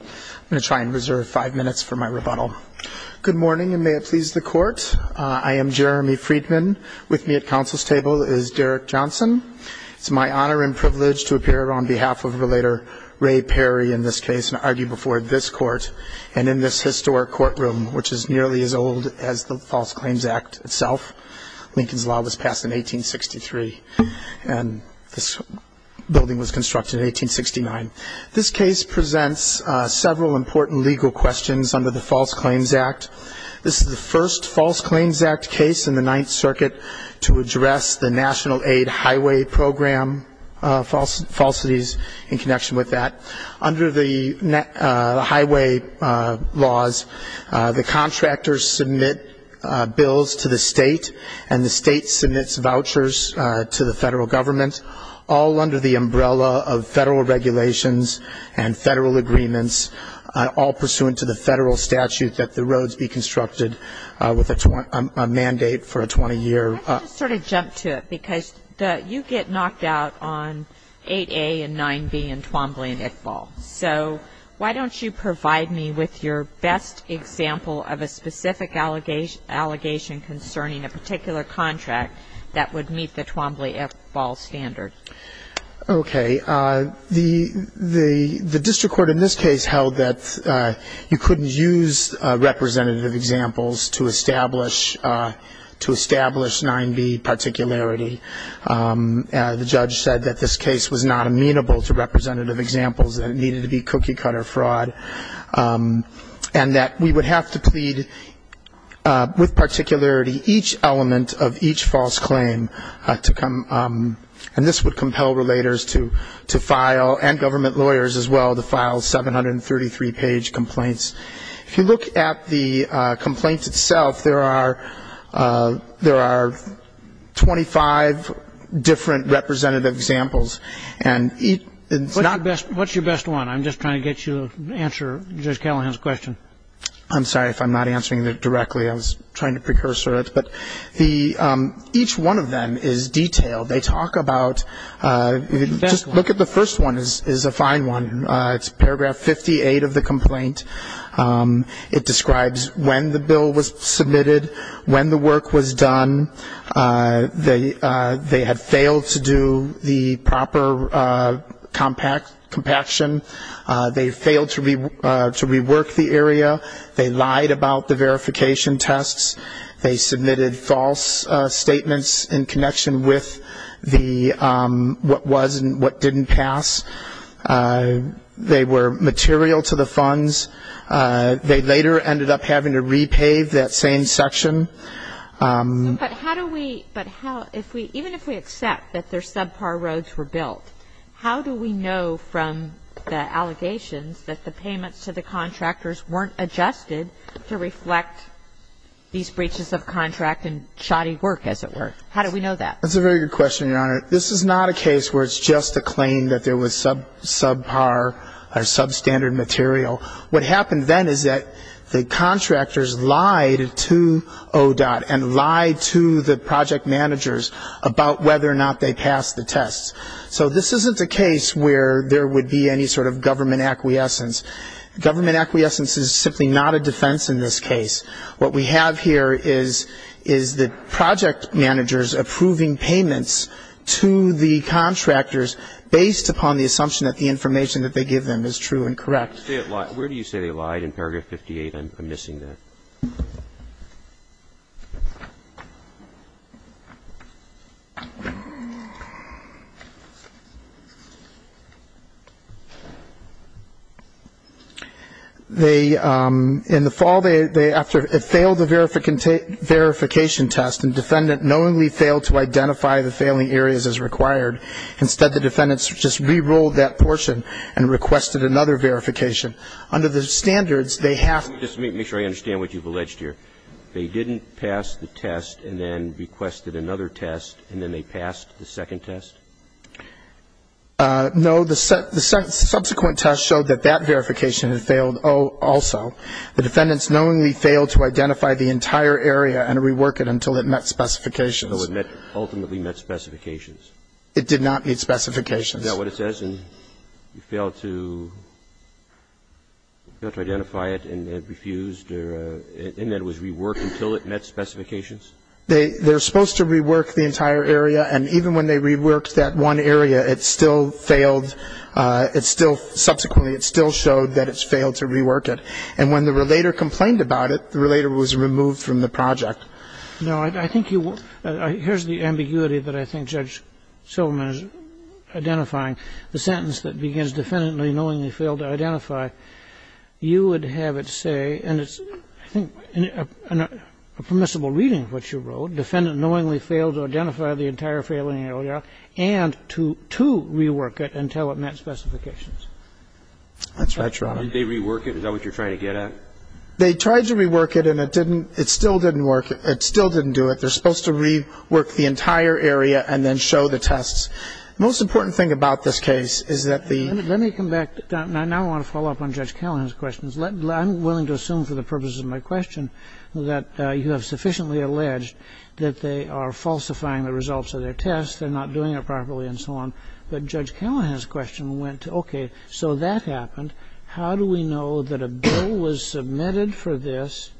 I'm going to try and reserve five minutes for my rebuttal. Good morning, and may it please the court. I am Jeremy Friedman. With me at council's table is Derek Johnson. It's my honor and privilege to appear on behalf of a later Ray Perry in this case and argue before this court and in this historic courtroom, which is nearly as old as the False Claims Act itself. Lincoln's law was passed in 1863, and this building was constructed in 1869. This case presents several important legal questions under the False Claims Act. This is the first False Claims Act case in the Ninth Circuit to address the National Aid Highway Program falsities in connection with that. Under the highway laws, the contractors submit bills to the state, and the state submits vouchers to the federal government, all under the umbrella of federal regulations and federal agreements. This is the first case in the Ninth Circuit in which the National Aid Highway Program falsifies all federal requirements, all pursuant to the federal statute that the roads be constructed with a mandate for a 20-year- I can just sort of jump to it. Because you get knocked out on 8A and 9B in Twombly and Iqbal. So why don't you provide me with your best example of a specific allegation concerning a particular contract that would meet the Twombly-Iqbal standard? Okay. The district court in this case held that you couldn't use representative examples to establish 9B particularity. The judge said that this case was not amenable to representative examples and it needed to be cookie-cutter fraud. And that we would have to plead with particularity each element of each false claim to come- and this would come from the district court. And we would have to compel relators to file- and government lawyers as well- to file 733 page complaints. If you look at the complaints itself, there are 25 different representative examples. And each- What's your best one? I'm just trying to get you to answer Judge Callahan's question. I'm sorry if I'm not answering it directly. I was trying to precursor it. But the- each one of them is detailed. They talk about- The best one. They lied about the verification tests. They submitted false statements in connection with the- what was and what didn't pass. They were material to the funds. They later ended up having to repave that same section. But how do we- but how- if we- even if we accept that they're subpar roads were built, how do we know from the allegations that the payments to the contractors weren't adjusted to reflect these breaches of contract and shoddy work, as it were? How do we know that? That's a very good question, Your Honor. This is not a case where it's just a claim that there was subpar or substandard material. What happened then is that the contractors lied to ODOT and lied to the project managers about whether or not they passed the tests. So this isn't a case where there would be any sort of government acquiescence. Government acquiescence is simply not a defense in this case. What we have here is the project managers approving payments to the contractors based upon the assumption that the information that they give them is true and correct. Where do you say they lied in paragraph 58? I'm missing that. They- in the fall, they- after- it failed the verification test and defendant knowingly failed to identify the failing areas as required. Instead, the defendants just re-ruled that portion and requested another verification. Under the standards, they have- Let me just make sure I understand what you've alleged here. They didn't pass the test and then requested another test and then they passed the second test? No. The subsequent test showed that that verification had failed also. The defendants knowingly failed to identify the entire area and rework it until it met specifications. So it ultimately met specifications. It did not meet specifications. Is that what it says? And you failed to- you failed to identify it and it refused or- and then it was reworked until it met specifications? They're supposed to rework the entire area, and even when they reworked that one area, it still failed. It still- subsequently, it still showed that it's failed to rework it. And when the relator complained about it, the relator was removed from the project. Now, I think you- here's the ambiguity that I think Judge Silverman is identifying. The sentence that begins, defendant knowingly failed to identify, you would have it say, and it's, I think, a permissible reading of what you wrote, defendant knowingly failed to identify the entire failing area and to rework it until it met specifications. That's right, Your Honor. Did they rework it? Is that what you're trying to get at? They tried to rework it and it didn't- it still didn't work. It still didn't do it. They're supposed to rework the entire area and then show the tests. The most important thing about this case is that the- Let me come back. I now want to follow up on Judge Callahan's questions. I'm willing to assume for the purposes of my question that you have sufficiently alleged that they are falsifying the results of their test, they're not doing it properly, and so on. But Judge Callahan's question went, okay, so that happened. How do we know that a bill was submitted for this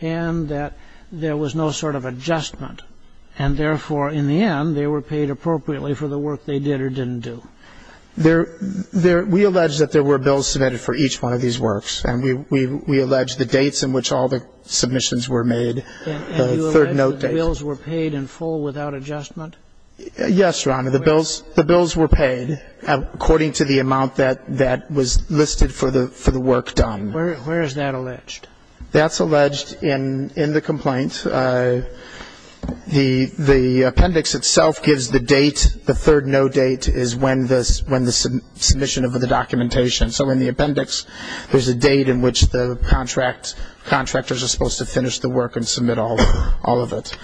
and that there was no sort of adjustment and, therefore, in the end, they were paid appropriately for the work they did or didn't do? There-we allege that there were bills submitted for each one of these works, and we allege the dates in which all the submissions were made, the third note dates. And you allege that the bills were paid in full without adjustment? Yes, Your Honor. The bills were paid according to the amount that was listed for the work done. Where is that alleged? That's alleged in the complaint. The appendix itself gives the date. The third note date is when the submission of the documentation. So in the appendix, there's a date in which the contractors are supposed to finish the work and submit all of it.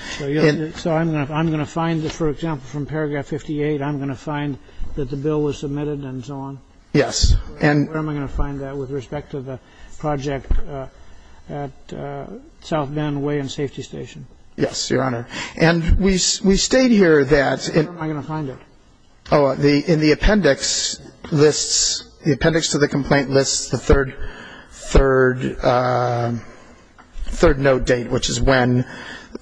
So I'm going to find, for example, from paragraph 58, I'm going to find that the bill was submitted and so on? Yes. Where am I going to find that with respect to the project at South Bend Way and Safety Station? Yes, Your Honor. And we state here that- Where am I going to find it? Oh, in the appendix, the appendix to the complaint lists the third note date, which is when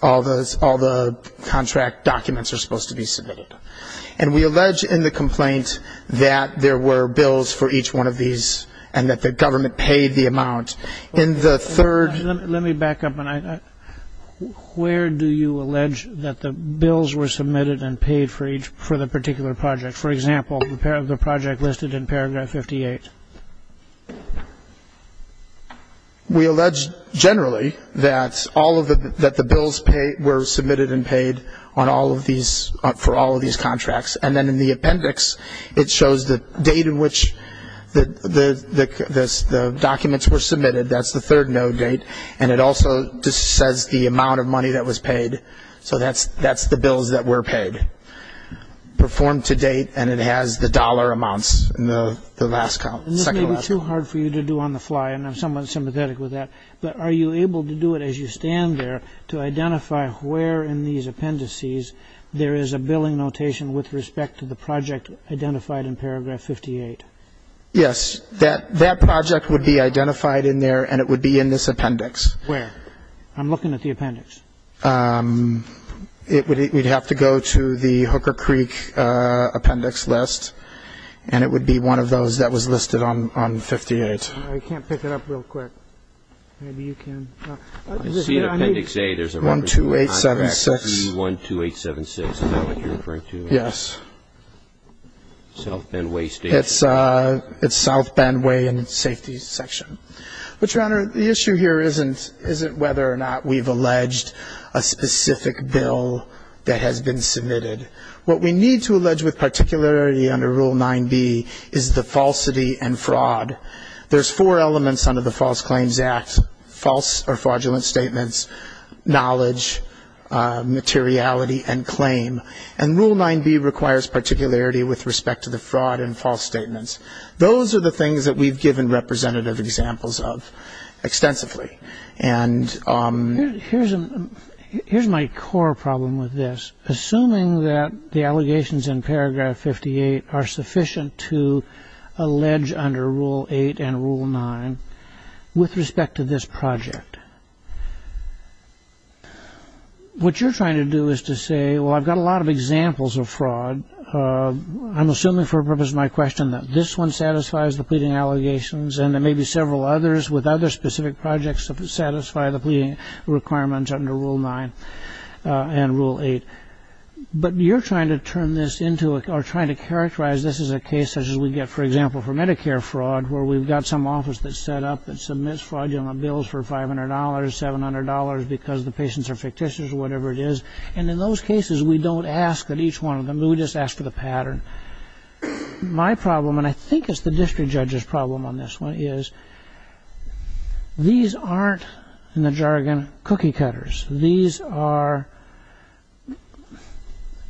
all the contract documents are supposed to be submitted. And we allege in the complaint that there were bills for each one of these and that the government paid the amount. In the third- Let me back up. Where do you allege that the bills were submitted and paid for the particular project? For example, the project listed in paragraph 58. We allege generally that the bills were submitted and paid for all of these contracts. And then in the appendix, it shows the date in which the documents were submitted. That's the third note date. And it also just says the amount of money that was paid. So that's the bills that were paid. Where do you allege that the bills were submitted and paid? The bill has an appendix that says the bills were paid to date and it has the dollar amounts in the last count, second last count. And this may be too hard for you to do on the fly, and I'm somewhat sympathetic with that. But are you able to do it as you stand there to identify where in these appendices there is a billing notation with respect to the project identified in paragraph 58? Yes. That project would be identified in there and it would be in this appendix. Where? I'm looking at the appendix. It would have to go to the Hooker Creek appendix list, and it would be one of those that was listed on 58. I can't pick it up real quick. Maybe you can. I see in appendix A there's a reference to contract 312876. Is that what you're referring to? Yes. South Bend Way Station. It's South Bend Way and Safety Section. But, Your Honor, the issue here isn't whether or not we've alleged a specific bill that has been submitted. What we need to allege with particularity under Rule 9b is the falsity and fraud. There's four elements under the False Claims Act, false or fraudulent statements, knowledge, materiality, and claim. And Rule 9b requires particularity with respect to the fraud and false statements. Those are the things that we've given representative examples of extensively. Here's my core problem with this. Assuming that the allegations in paragraph 58 are sufficient to allege under Rule 8 and Rule 9 with respect to this project, what you're trying to do is to say, well, I've got a lot of examples of fraud. I'm assuming for the purpose of my question that this one satisfies the pleading allegations, and there may be several others with other specific projects that satisfy the pleading requirements under Rule 9 and Rule 8. But you're trying to characterize this as a case such as we get, for example, for Medicare fraud, where we've got some office that's set up that submits fraudulent bills for $500, $700, because the patients are fictitious or whatever it is. And in those cases, we don't ask for each one of them. We just ask for the pattern. My problem, and I think it's the district judge's problem on this one, is these aren't, in the jargon, cookie cutters. These are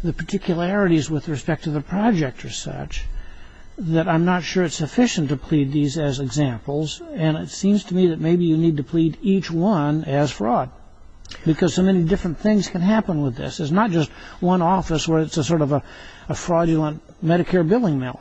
the particularities with respect to the project or such that I'm not sure it's sufficient to plead these as examples. And it seems to me that maybe you need to plead each one as fraud, because so many different things can happen with this. It's not just one office where it's a sort of a fraudulent Medicare billing mill.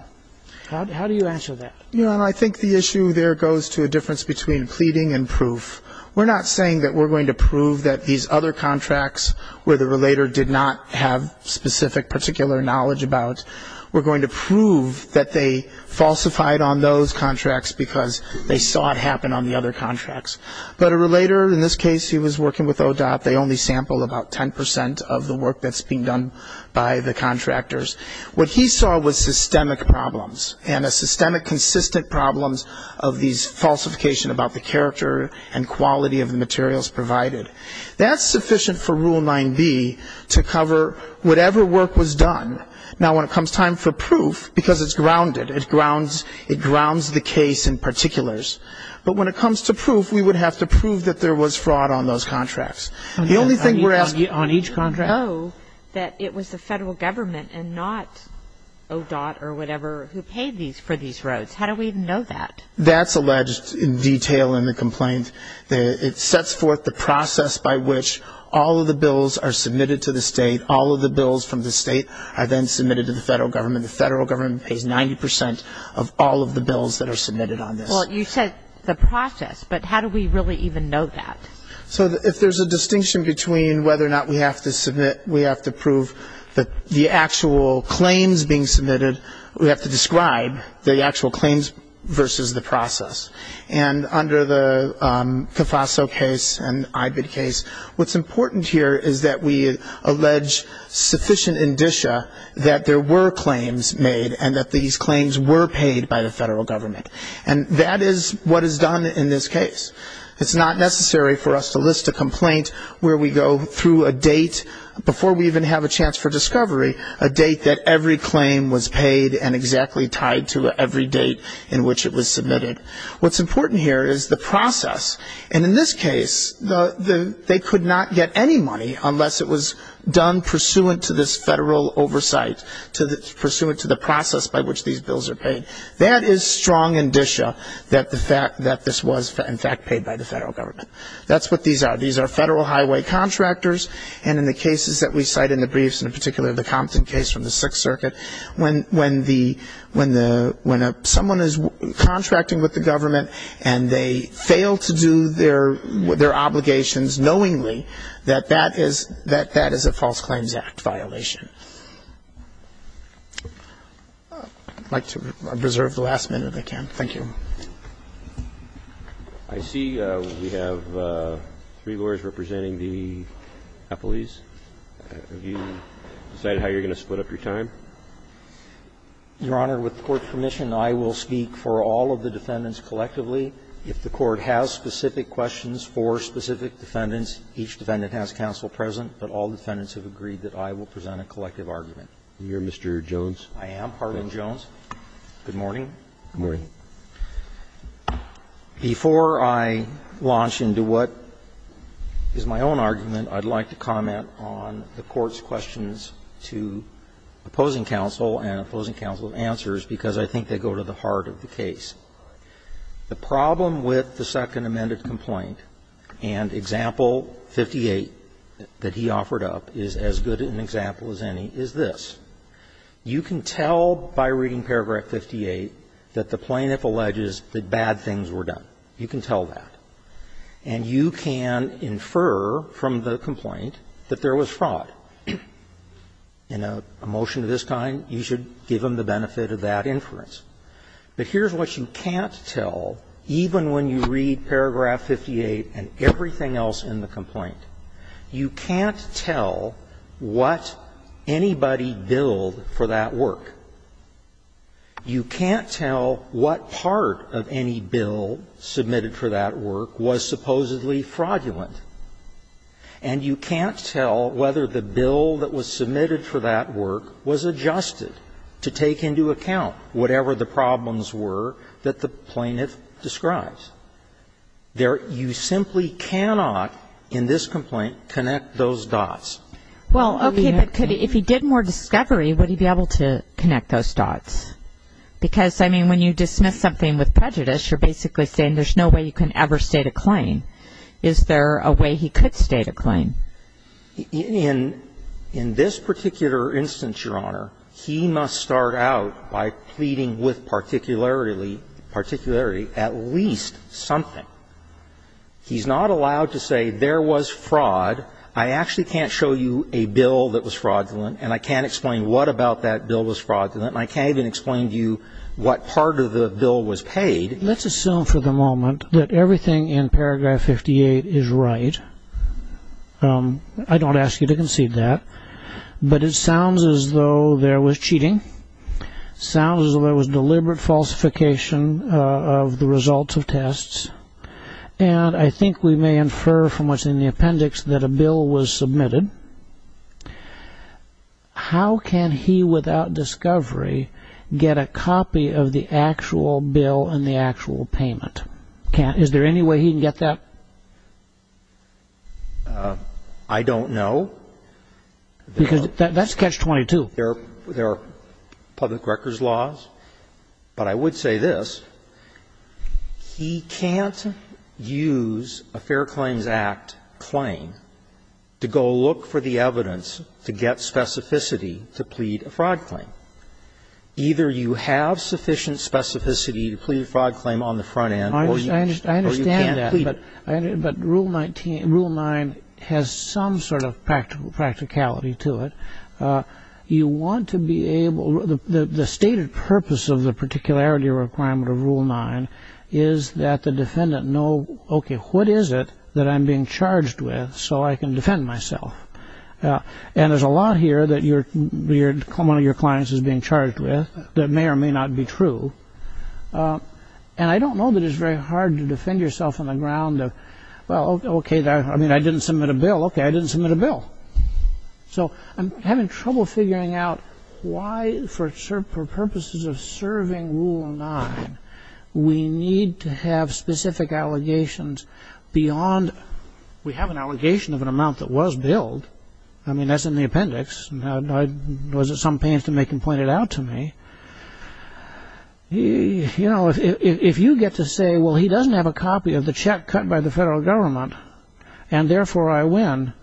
How do you answer that? You know, and I think the issue there goes to a difference between pleading and proof. We're not saying that we're going to prove that these other contracts, where the relator did not have specific particular knowledge about, we're going to prove that they falsified on those contracts because they saw it happen on the other contracts. But a relator, in this case, he was working with ODOT. They only sampled about 10 percent of the work that's being done by the contractors. What he saw was systemic problems, and a systemic consistent problems of these falsification about the character and quality of the materials provided. That's sufficient for Rule 9b to cover whatever work was done. Now, when it comes time for proof, because it's grounded, it grounds the case in particulars. But when it comes to proof, we would have to prove that there was fraud on those contracts. The only thing we're asking on each contract. Do you know that it was the federal government and not ODOT or whatever who paid for these roads? How do we even know that? That's alleged in detail in the complaint. It sets forth the process by which all of the bills are submitted to the state. All of the bills from the state are then submitted to the federal government. The federal government pays 90 percent of all of the bills that are submitted on this. Well, you said the process, but how do we really even know that? So if there's a distinction between whether or not we have to submit, we have to prove that the actual claims being submitted, we have to describe the actual claims versus the process. And under the CAFASO case and IBID case, what's important here is that we allege sufficient indicia that there were claims made and that these claims were paid by the federal government. And that is what is done in this case. It's not necessary for us to list a complaint where we go through a date, before we even have a chance for discovery, a date that every claim was paid and exactly tied to every date in which it was submitted. What's important here is the process. And in this case, they could not get any money unless it was done pursuant to this federal oversight, pursuant to the process by which these bills are paid. That is strong indicia that this was, in fact, paid by the federal government. That's what these are. These are federal highway contractors. And in the cases that we cite in the briefs, and in particular the Compton case from the Sixth Circuit, when someone is contracting with the government and they fail to do their obligations knowingly, that that is a False Claims Act violation. I'd like to reserve the last minute if I can. Thank you. Roberts. I see we have three lawyers representing the appellees. Have you decided how you're going to split up your time? Your Honor, with court permission, I will speak for all of the defendants collectively. If the court has specific questions for specific defendants, each defendant has counsel present, but all defendants have agreed that I will present a collective argument. And you're Mr. Jones? I am. Harlan Jones. Good morning. Good morning. Before I launch into what is my own argument, I'd like to comment on the Court's questions to opposing counsel and opposing counsel's answers, because I think they go to the heart of the case. The problem with the Second Amended Complaint and Example 58 that he offered up is as good an example as any is this. You can tell by reading Paragraph 58 that the plaintiff alleges that bad things were done. You can tell that. And you can infer from the complaint that there was fraud. In a motion of this kind, you should give them the benefit of that inference. But here's what you can't tell, even when you read Paragraph 58 and everything else in the complaint. You can't tell what anybody billed for that work. You can't tell what part of any bill submitted for that work was supposedly fraudulent. And you can't tell whether the bill that was submitted for that work was adjusted to take into account whatever the problems were that the plaintiff describes. You simply cannot, in this complaint, connect those dots. Well, okay, but if he did more discovery, would he be able to connect those dots? Because, I mean, when you dismiss something with prejudice, you're basically saying there's no way you can ever state a claim. Is there a way he could state a claim? In this particular instance, Your Honor, he must start out by pleading with particularity at least something. He's not allowed to say there was fraud. I actually can't show you a bill that was fraudulent, and I can't explain what about that bill was fraudulent, and I can't even explain to you what part of the bill was paid. Let's assume for the moment that everything in paragraph 58 is right. I don't ask you to concede that. But it sounds as though there was cheating, sounds as though there was deliberate falsification of the results of tests. And I think we may infer from what's in the appendix that a bill was submitted. How can he, without discovery, get a copy of the actual bill and the actual payment? Is there any way he can get that? I don't know. Because that's catch-22. There are public records laws, but I would say this. He can't use a Fair Claims Act claim to go look for the evidence to get specificity to plead a fraud claim. Either you have sufficient specificity to plead a fraud claim on the front end or you can't plead. I understand that, but Rule 9 has some sort of practicality to it. You want to be able to the stated purpose of the particularity requirement of Rule 9 is that the defendant know, okay, what is it that I'm being charged with so I can defend myself? And there's a lot here that one of your clients is being charged with that may or may not be true. And I don't know that it's very hard to defend yourself on the ground of, well, okay, I didn't submit a bill. Okay, I didn't submit a bill. So, I'm having trouble figuring out why, for purposes of serving Rule 9, we need to have specific allegations beyond, we have an allegation of an amount that was billed. I mean, that's in the appendix. Was it some pains to make him point it out to me? You know, if you get to say, well, he doesn't have a copy of the check cut by the federal government, and therefore I win,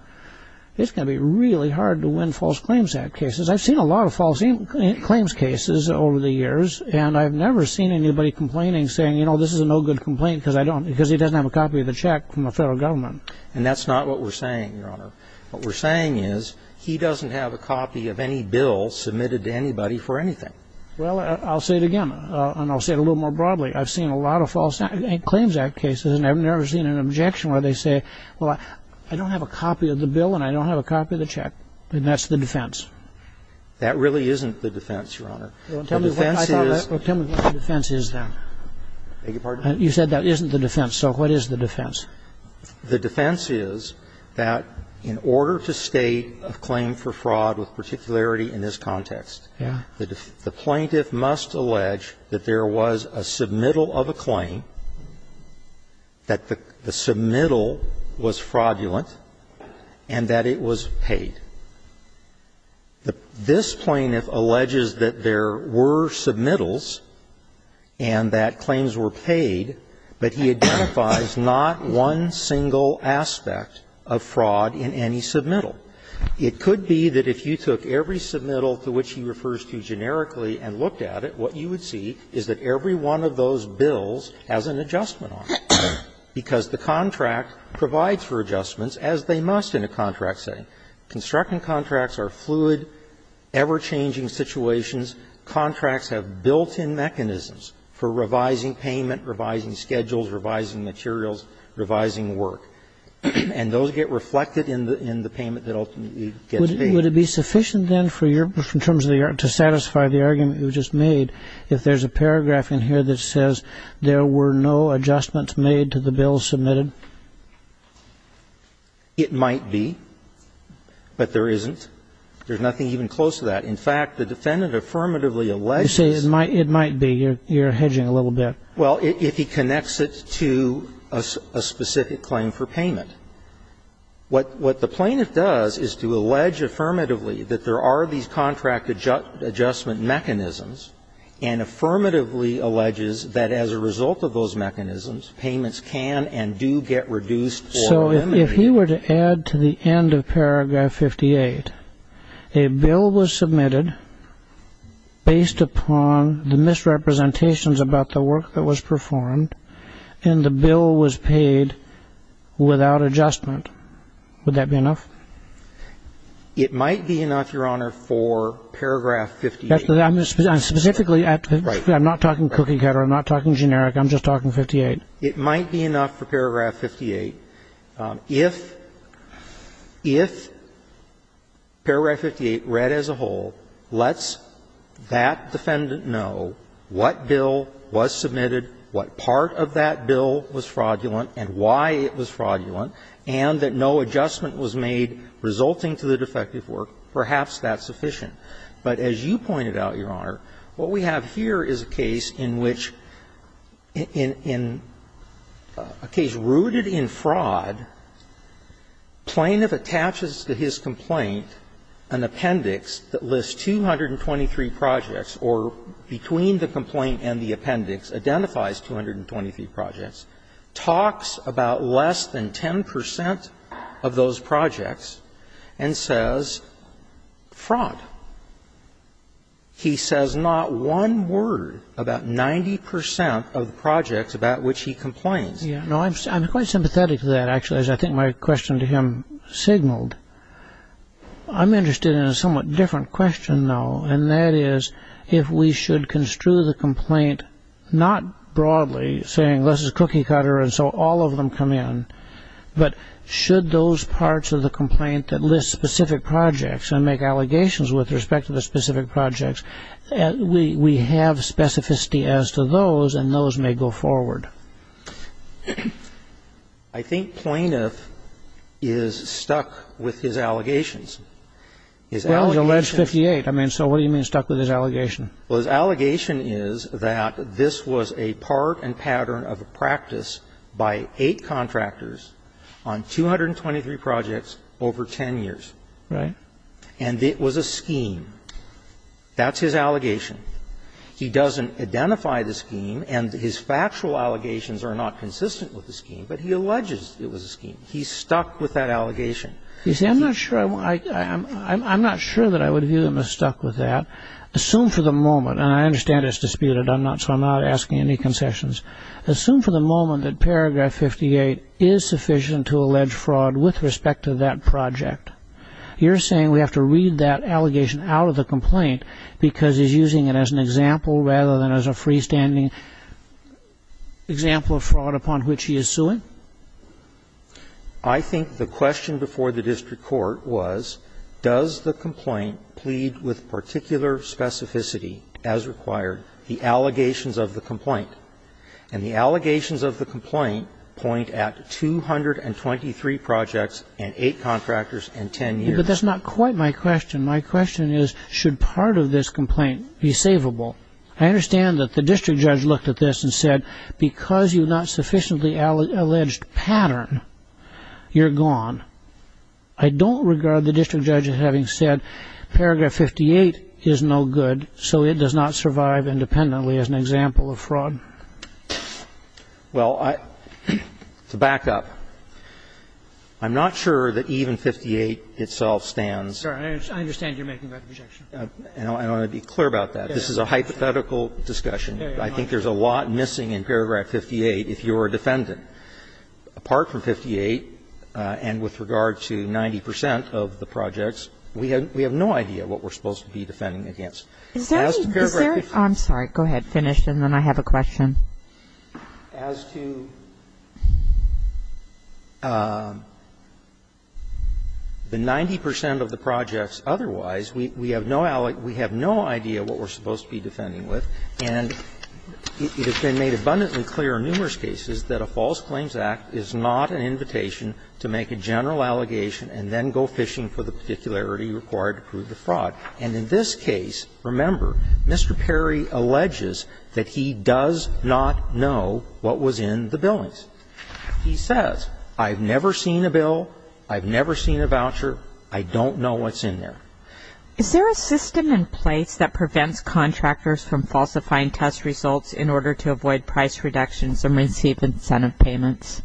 it's going to be really hard to win false claims act cases. I've seen a lot of false claims cases over the years, and I've never seen anybody complaining saying, you know, this is a no good complaint because he doesn't have a copy of the check from the federal government. And that's not what we're saying, Your Honor. What we're saying is he doesn't have a copy of any bill submitted to anybody for anything. Well, I'll say it again, and I'll say it a little more broadly. I've seen a lot of false claims act cases, and I've never seen an objection where they say, well, I don't have a copy of the bill, and I don't have a copy of the check. And that's the defense. That really isn't the defense, Your Honor. Tell me what the defense is, then. You said that isn't the defense. So what is the defense? The defense is that in order to state a claim for fraud with particularity in this context, the plaintiff must allege that there was a submittal of a claim, that the submittal was fraudulent, and that it was paid. This plaintiff alleges that there were submittals and that claims were paid, but he identifies not one single aspect of fraud in any submittal. It could be that if you took every submittal to which he refers to generically and looked at it, what you would see is that every one of those bills has an adjustment on it, because the contract provides for adjustments, as they must in a contract setting. Constructing contracts are fluid, ever-changing situations. Contracts have built-in mechanisms for revising payment, revising schedules, revising materials, revising work. And those get reflected in the payment that ultimately gets paid. Would it be sufficient, then, to satisfy the argument you just made, if there's a paragraph in here that says there were no adjustments made to the bills submitted? It might be, but there isn't. There's nothing even close to that. In fact, the defendant affirmatively alleges... You say it might be. You're hedging a little bit. Well, if he connects it to a specific claim for payment. What the plaintiff does is to allege affirmatively that there are these contract adjustment mechanisms, and affirmatively alleges that as a result of those mechanisms, payments can and do get reduced or eliminated. So if he were to add to the end of paragraph 58, a bill was submitted based upon the first representations about the work that was performed, and the bill was paid without adjustment, would that be enough? It might be enough, Your Honor, for paragraph 58. Specifically, I'm not talking cookie-cutter. I'm not talking generic. I'm just talking 58. It might be enough for paragraph 58. If paragraph 58 read as a whole lets that defendant know what bill was submitted, what part of that bill was fraudulent, and why it was fraudulent, and that no adjustment was made resulting to the defective work, perhaps that's sufficient. But as you pointed out, Your Honor, what we have here is a case in which in a case rooted in fraud, plaintiff attaches to his complaint an appendix that lists 223 projects, or between the complaint and the appendix, identifies 223 projects, talks about less than 10 percent of those projects, and says fraud. He says not one word about 90 percent of the projects about which he complains. I'm quite sympathetic to that, actually, as I think my question to him signaled. I'm interested in a somewhat different question, though, and that is if we should construe the complaint not broadly saying this is cookie-cutter and so all of them come in, but should those parts of the complaint that list specific projects and make allegations with respect to the specific projects, we have specificity as to those, and those may go forward. I think plaintiff is stuck with his allegations. His allegations are stuck with his allegations. Well, his allegation is that this was a part and pattern of a practice by eight contractors on 223 projects over 10 years. Right. And it was a scheme. That's his allegation. He doesn't identify the scheme, and his factual allegations are not consistent with the scheme, but he alleges it was a scheme. He's stuck with that allegation. You see, I'm not sure that I would view him as stuck with that. Assume for the moment, and I understand it's disputed, so I'm not asking any concessions. Assume for the moment that paragraph 58 is sufficient to allege fraud with respect to that project. You're saying we have to read that allegation out of the complaint because he's using it as an example rather than as a freestanding example of fraud upon which he is suing? I think the question before the district court was, does the complaint plead with particular specificity as required, the allegations of the complaint? And the allegations of the complaint point at 223 projects and eight contractors and 10 years. But that's not quite my question. My question is, should part of this complaint be savable? I understand that the district judge looked at this and said, because you've not sufficiently alleged pattern, you're gone. I don't regard the district judge as having said paragraph 58 is no good, so it does not survive independently as an example of fraud. Well, to back up, I'm not sure that even 58 itself stands. I understand you're making that objection. I want to be clear about that. This is a hypothetical discussion. I think there's a lot missing in paragraph 58 if you're a defendant. Apart from 58 and with regard to 90 percent of the projects, we have no idea what we're supposed to be defending against. As to paragraph 58. I'm sorry. Finish, and then I have a question. As to the 90 percent of the projects otherwise, we have no idea what we're supposed to be defending with, and it has been made abundantly clear in numerous cases that a False Claims Act is not an invitation to make a general allegation and then go fishing for the particularity required to prove the fraud. And in this case, remember, Mr. Perry alleges that he does not know what was in the billings. He says, I've never seen a bill, I've never seen a voucher, I don't know what's in there. Is there a system in place that prevents contractors from falsifying test results in order to avoid price reductions and receive incentive payments?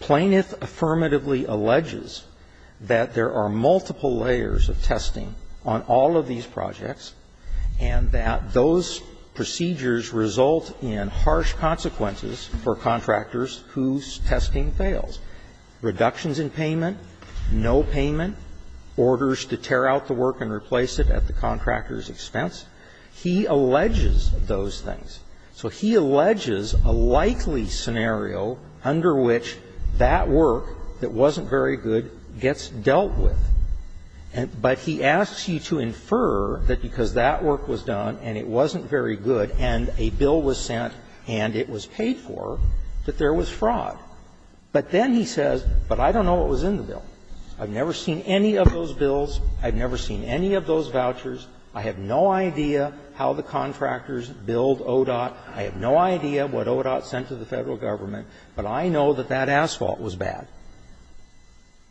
Planeth affirmatively alleges that there are multiple layers of testing on all of these projects and that those procedures result in harsh consequences for contractors whose testing fails, reductions in payment, no payment, orders to tear out the work and replace it at the contractor's expense. He alleges those things. So he alleges a likely scenario under which that work that wasn't very good gets dealt with, but he asks you to infer that because that work was done and it wasn't very good and a bill was sent and it was paid for, that there was fraud. But then he says, but I don't know what was in the bill. I've never seen any of those bills. I've never seen any of those vouchers. I have no idea how the contractors billed ODOT. I have no idea what ODOT sent to the Federal Government. But I know that that asphalt was bad.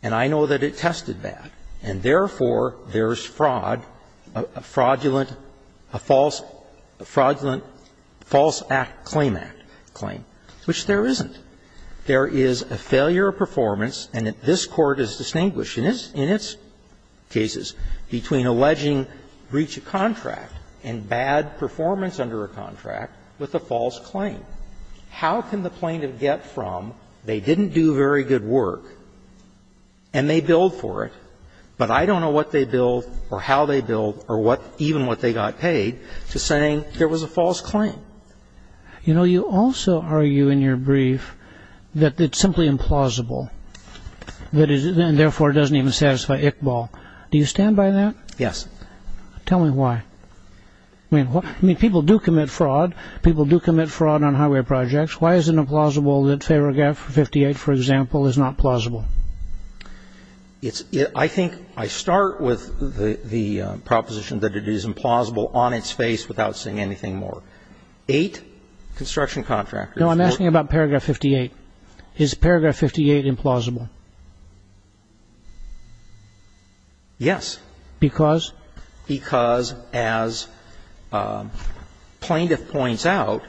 And I know that it tested bad. And therefore, there's fraud, a fraudulent, a false act claim, which there isn't. There is a failure of performance, and this Court has distinguished in its cases between alleging breach of contract and bad performance under a contract with a false claim. How can the plaintiff get from they didn't do very good work and they billed for it, but I don't know what they billed or how they billed or even what they got paid to saying there was a false claim? You know, you also argue in your brief that it's simply implausible, and therefore it doesn't even satisfy Iqbal. Do you stand by that? Yes. Tell me why. I mean, people do commit fraud. People do commit fraud on highway projects. Why is it implausible that paragraph 58, for example, is not plausible? I think I start with the proposition that it is implausible on its face without saying anything more. Eight construction contractors. No, I'm asking about paragraph 58. Is paragraph 58 implausible? Yes. Because? Because, as plaintiff points out,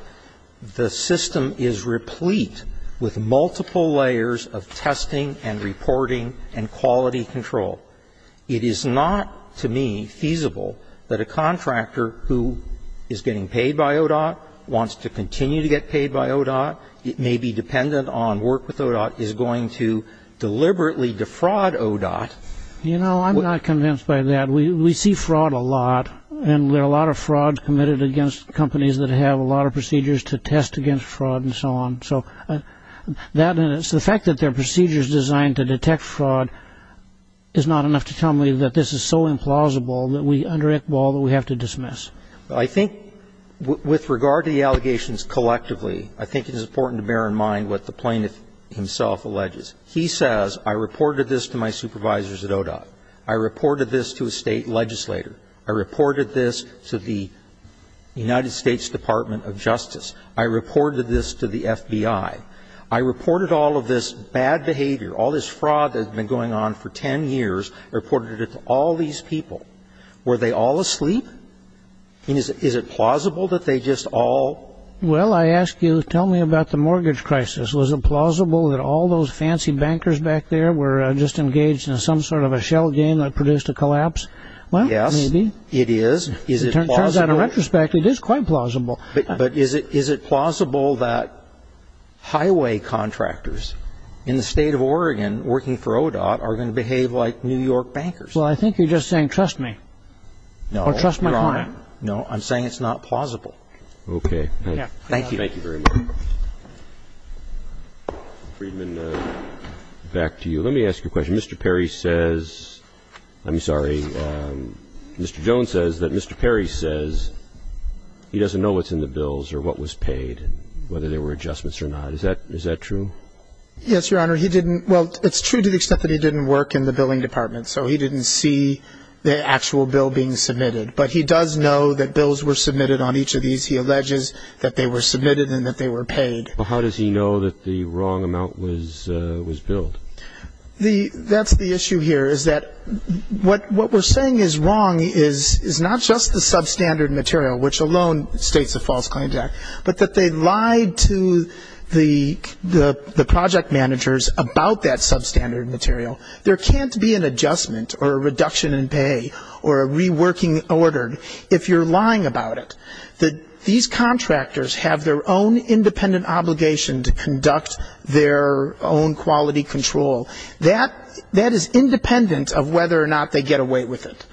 the system is replete with multiple layers of testing and reporting and quality control. It is not to me feasible that a contractor who is getting paid by ODOT, wants to continue to get paid by ODOT, it may be dependent on work with ODOT, is going to deliberately defraud ODOT. You know, I'm not convinced by that. We see fraud a lot. And there are a lot of frauds committed against companies that have a lot of procedures to test against fraud and so on. So the fact that there are procedures designed to detect fraud is not enough to tell me that this is so implausible that we, under Iqbal, that we have to dismiss. I think, with regard to the allegations collectively, I think it is important to bear in mind what the plaintiff himself alleges. He says, I reported this to my supervisors at ODOT. I reported this to a state legislator. I reported this to the United States Department of Justice. I reported this to the FBI. I reported all of this bad behavior, all this fraud that has been going on for ten years, reported it to all these people. Were they all asleep? Is it plausible that they just all? Well, I ask you, tell me about the mortgage crisis. Was it plausible that all those fancy bankers back there were just engaged in some sort of a shell game that produced a collapse? Well, maybe. Yes, it is. In retrospect, it is quite plausible. But is it plausible that highway contractors in the state of Oregon working for ODOT are going to behave like New York bankers? Well, I think you're just saying, trust me. No. Or trust my client. No, I'm saying it's not plausible. Okay. Thank you. Thank you very much. Friedman, back to you. Let me ask you a question. Mr. Perry says, I'm sorry, Mr. Jones says that Mr. Perry says he doesn't know what's in the bills or what was paid, whether there were adjustments or not. Is that true? Yes, Your Honor. He didn't, well, it's true to the extent that he didn't work in the billing department. So he didn't see the actual bill being submitted. But he does know that bills were submitted on each of these. He alleges that they were submitted and that they were paid. Well, how does he know that the wrong amount was billed? That's the issue here is that what we're saying is wrong is not just the substandard material, which alone states a false client act, but that they lied to the project managers about that substandard material. There can't be an adjustment or a reduction in pay or a reworking order if you're lying about it. These contractors have their own independent obligation to conduct their own quality control. That is independent of whether or not they get away with it.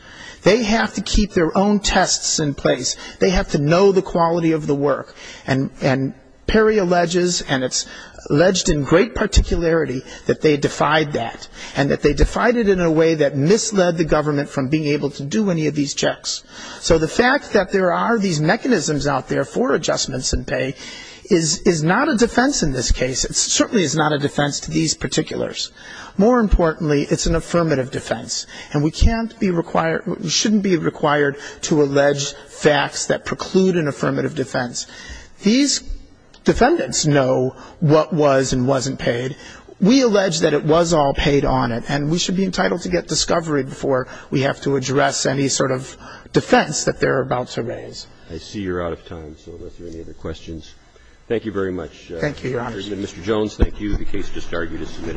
They have to keep their own tests in place. They have to know the quality of the work. And Perry alleges, and it's alleged in great particularity, that they defied that and that they defied it in a way that misled the government from being able to do any of these checks. So the fact that there are these mechanisms out there for adjustments in pay is not a defense in this case. It certainly is not a defense to these particulars. More importantly, it's an affirmative defense. And we can't be required, shouldn't be required to allege facts that preclude an affirmative defense. These defendants know what was and wasn't paid. We allege that it was all paid on it. And we should be entitled to get discovery before we have to address any sort of defense that they're about to raise. I see you're out of time, so unless there are any other questions. Thank you very much. Thank you, Your Honor. Mr. Jones, thank you. The case just argued is submitted.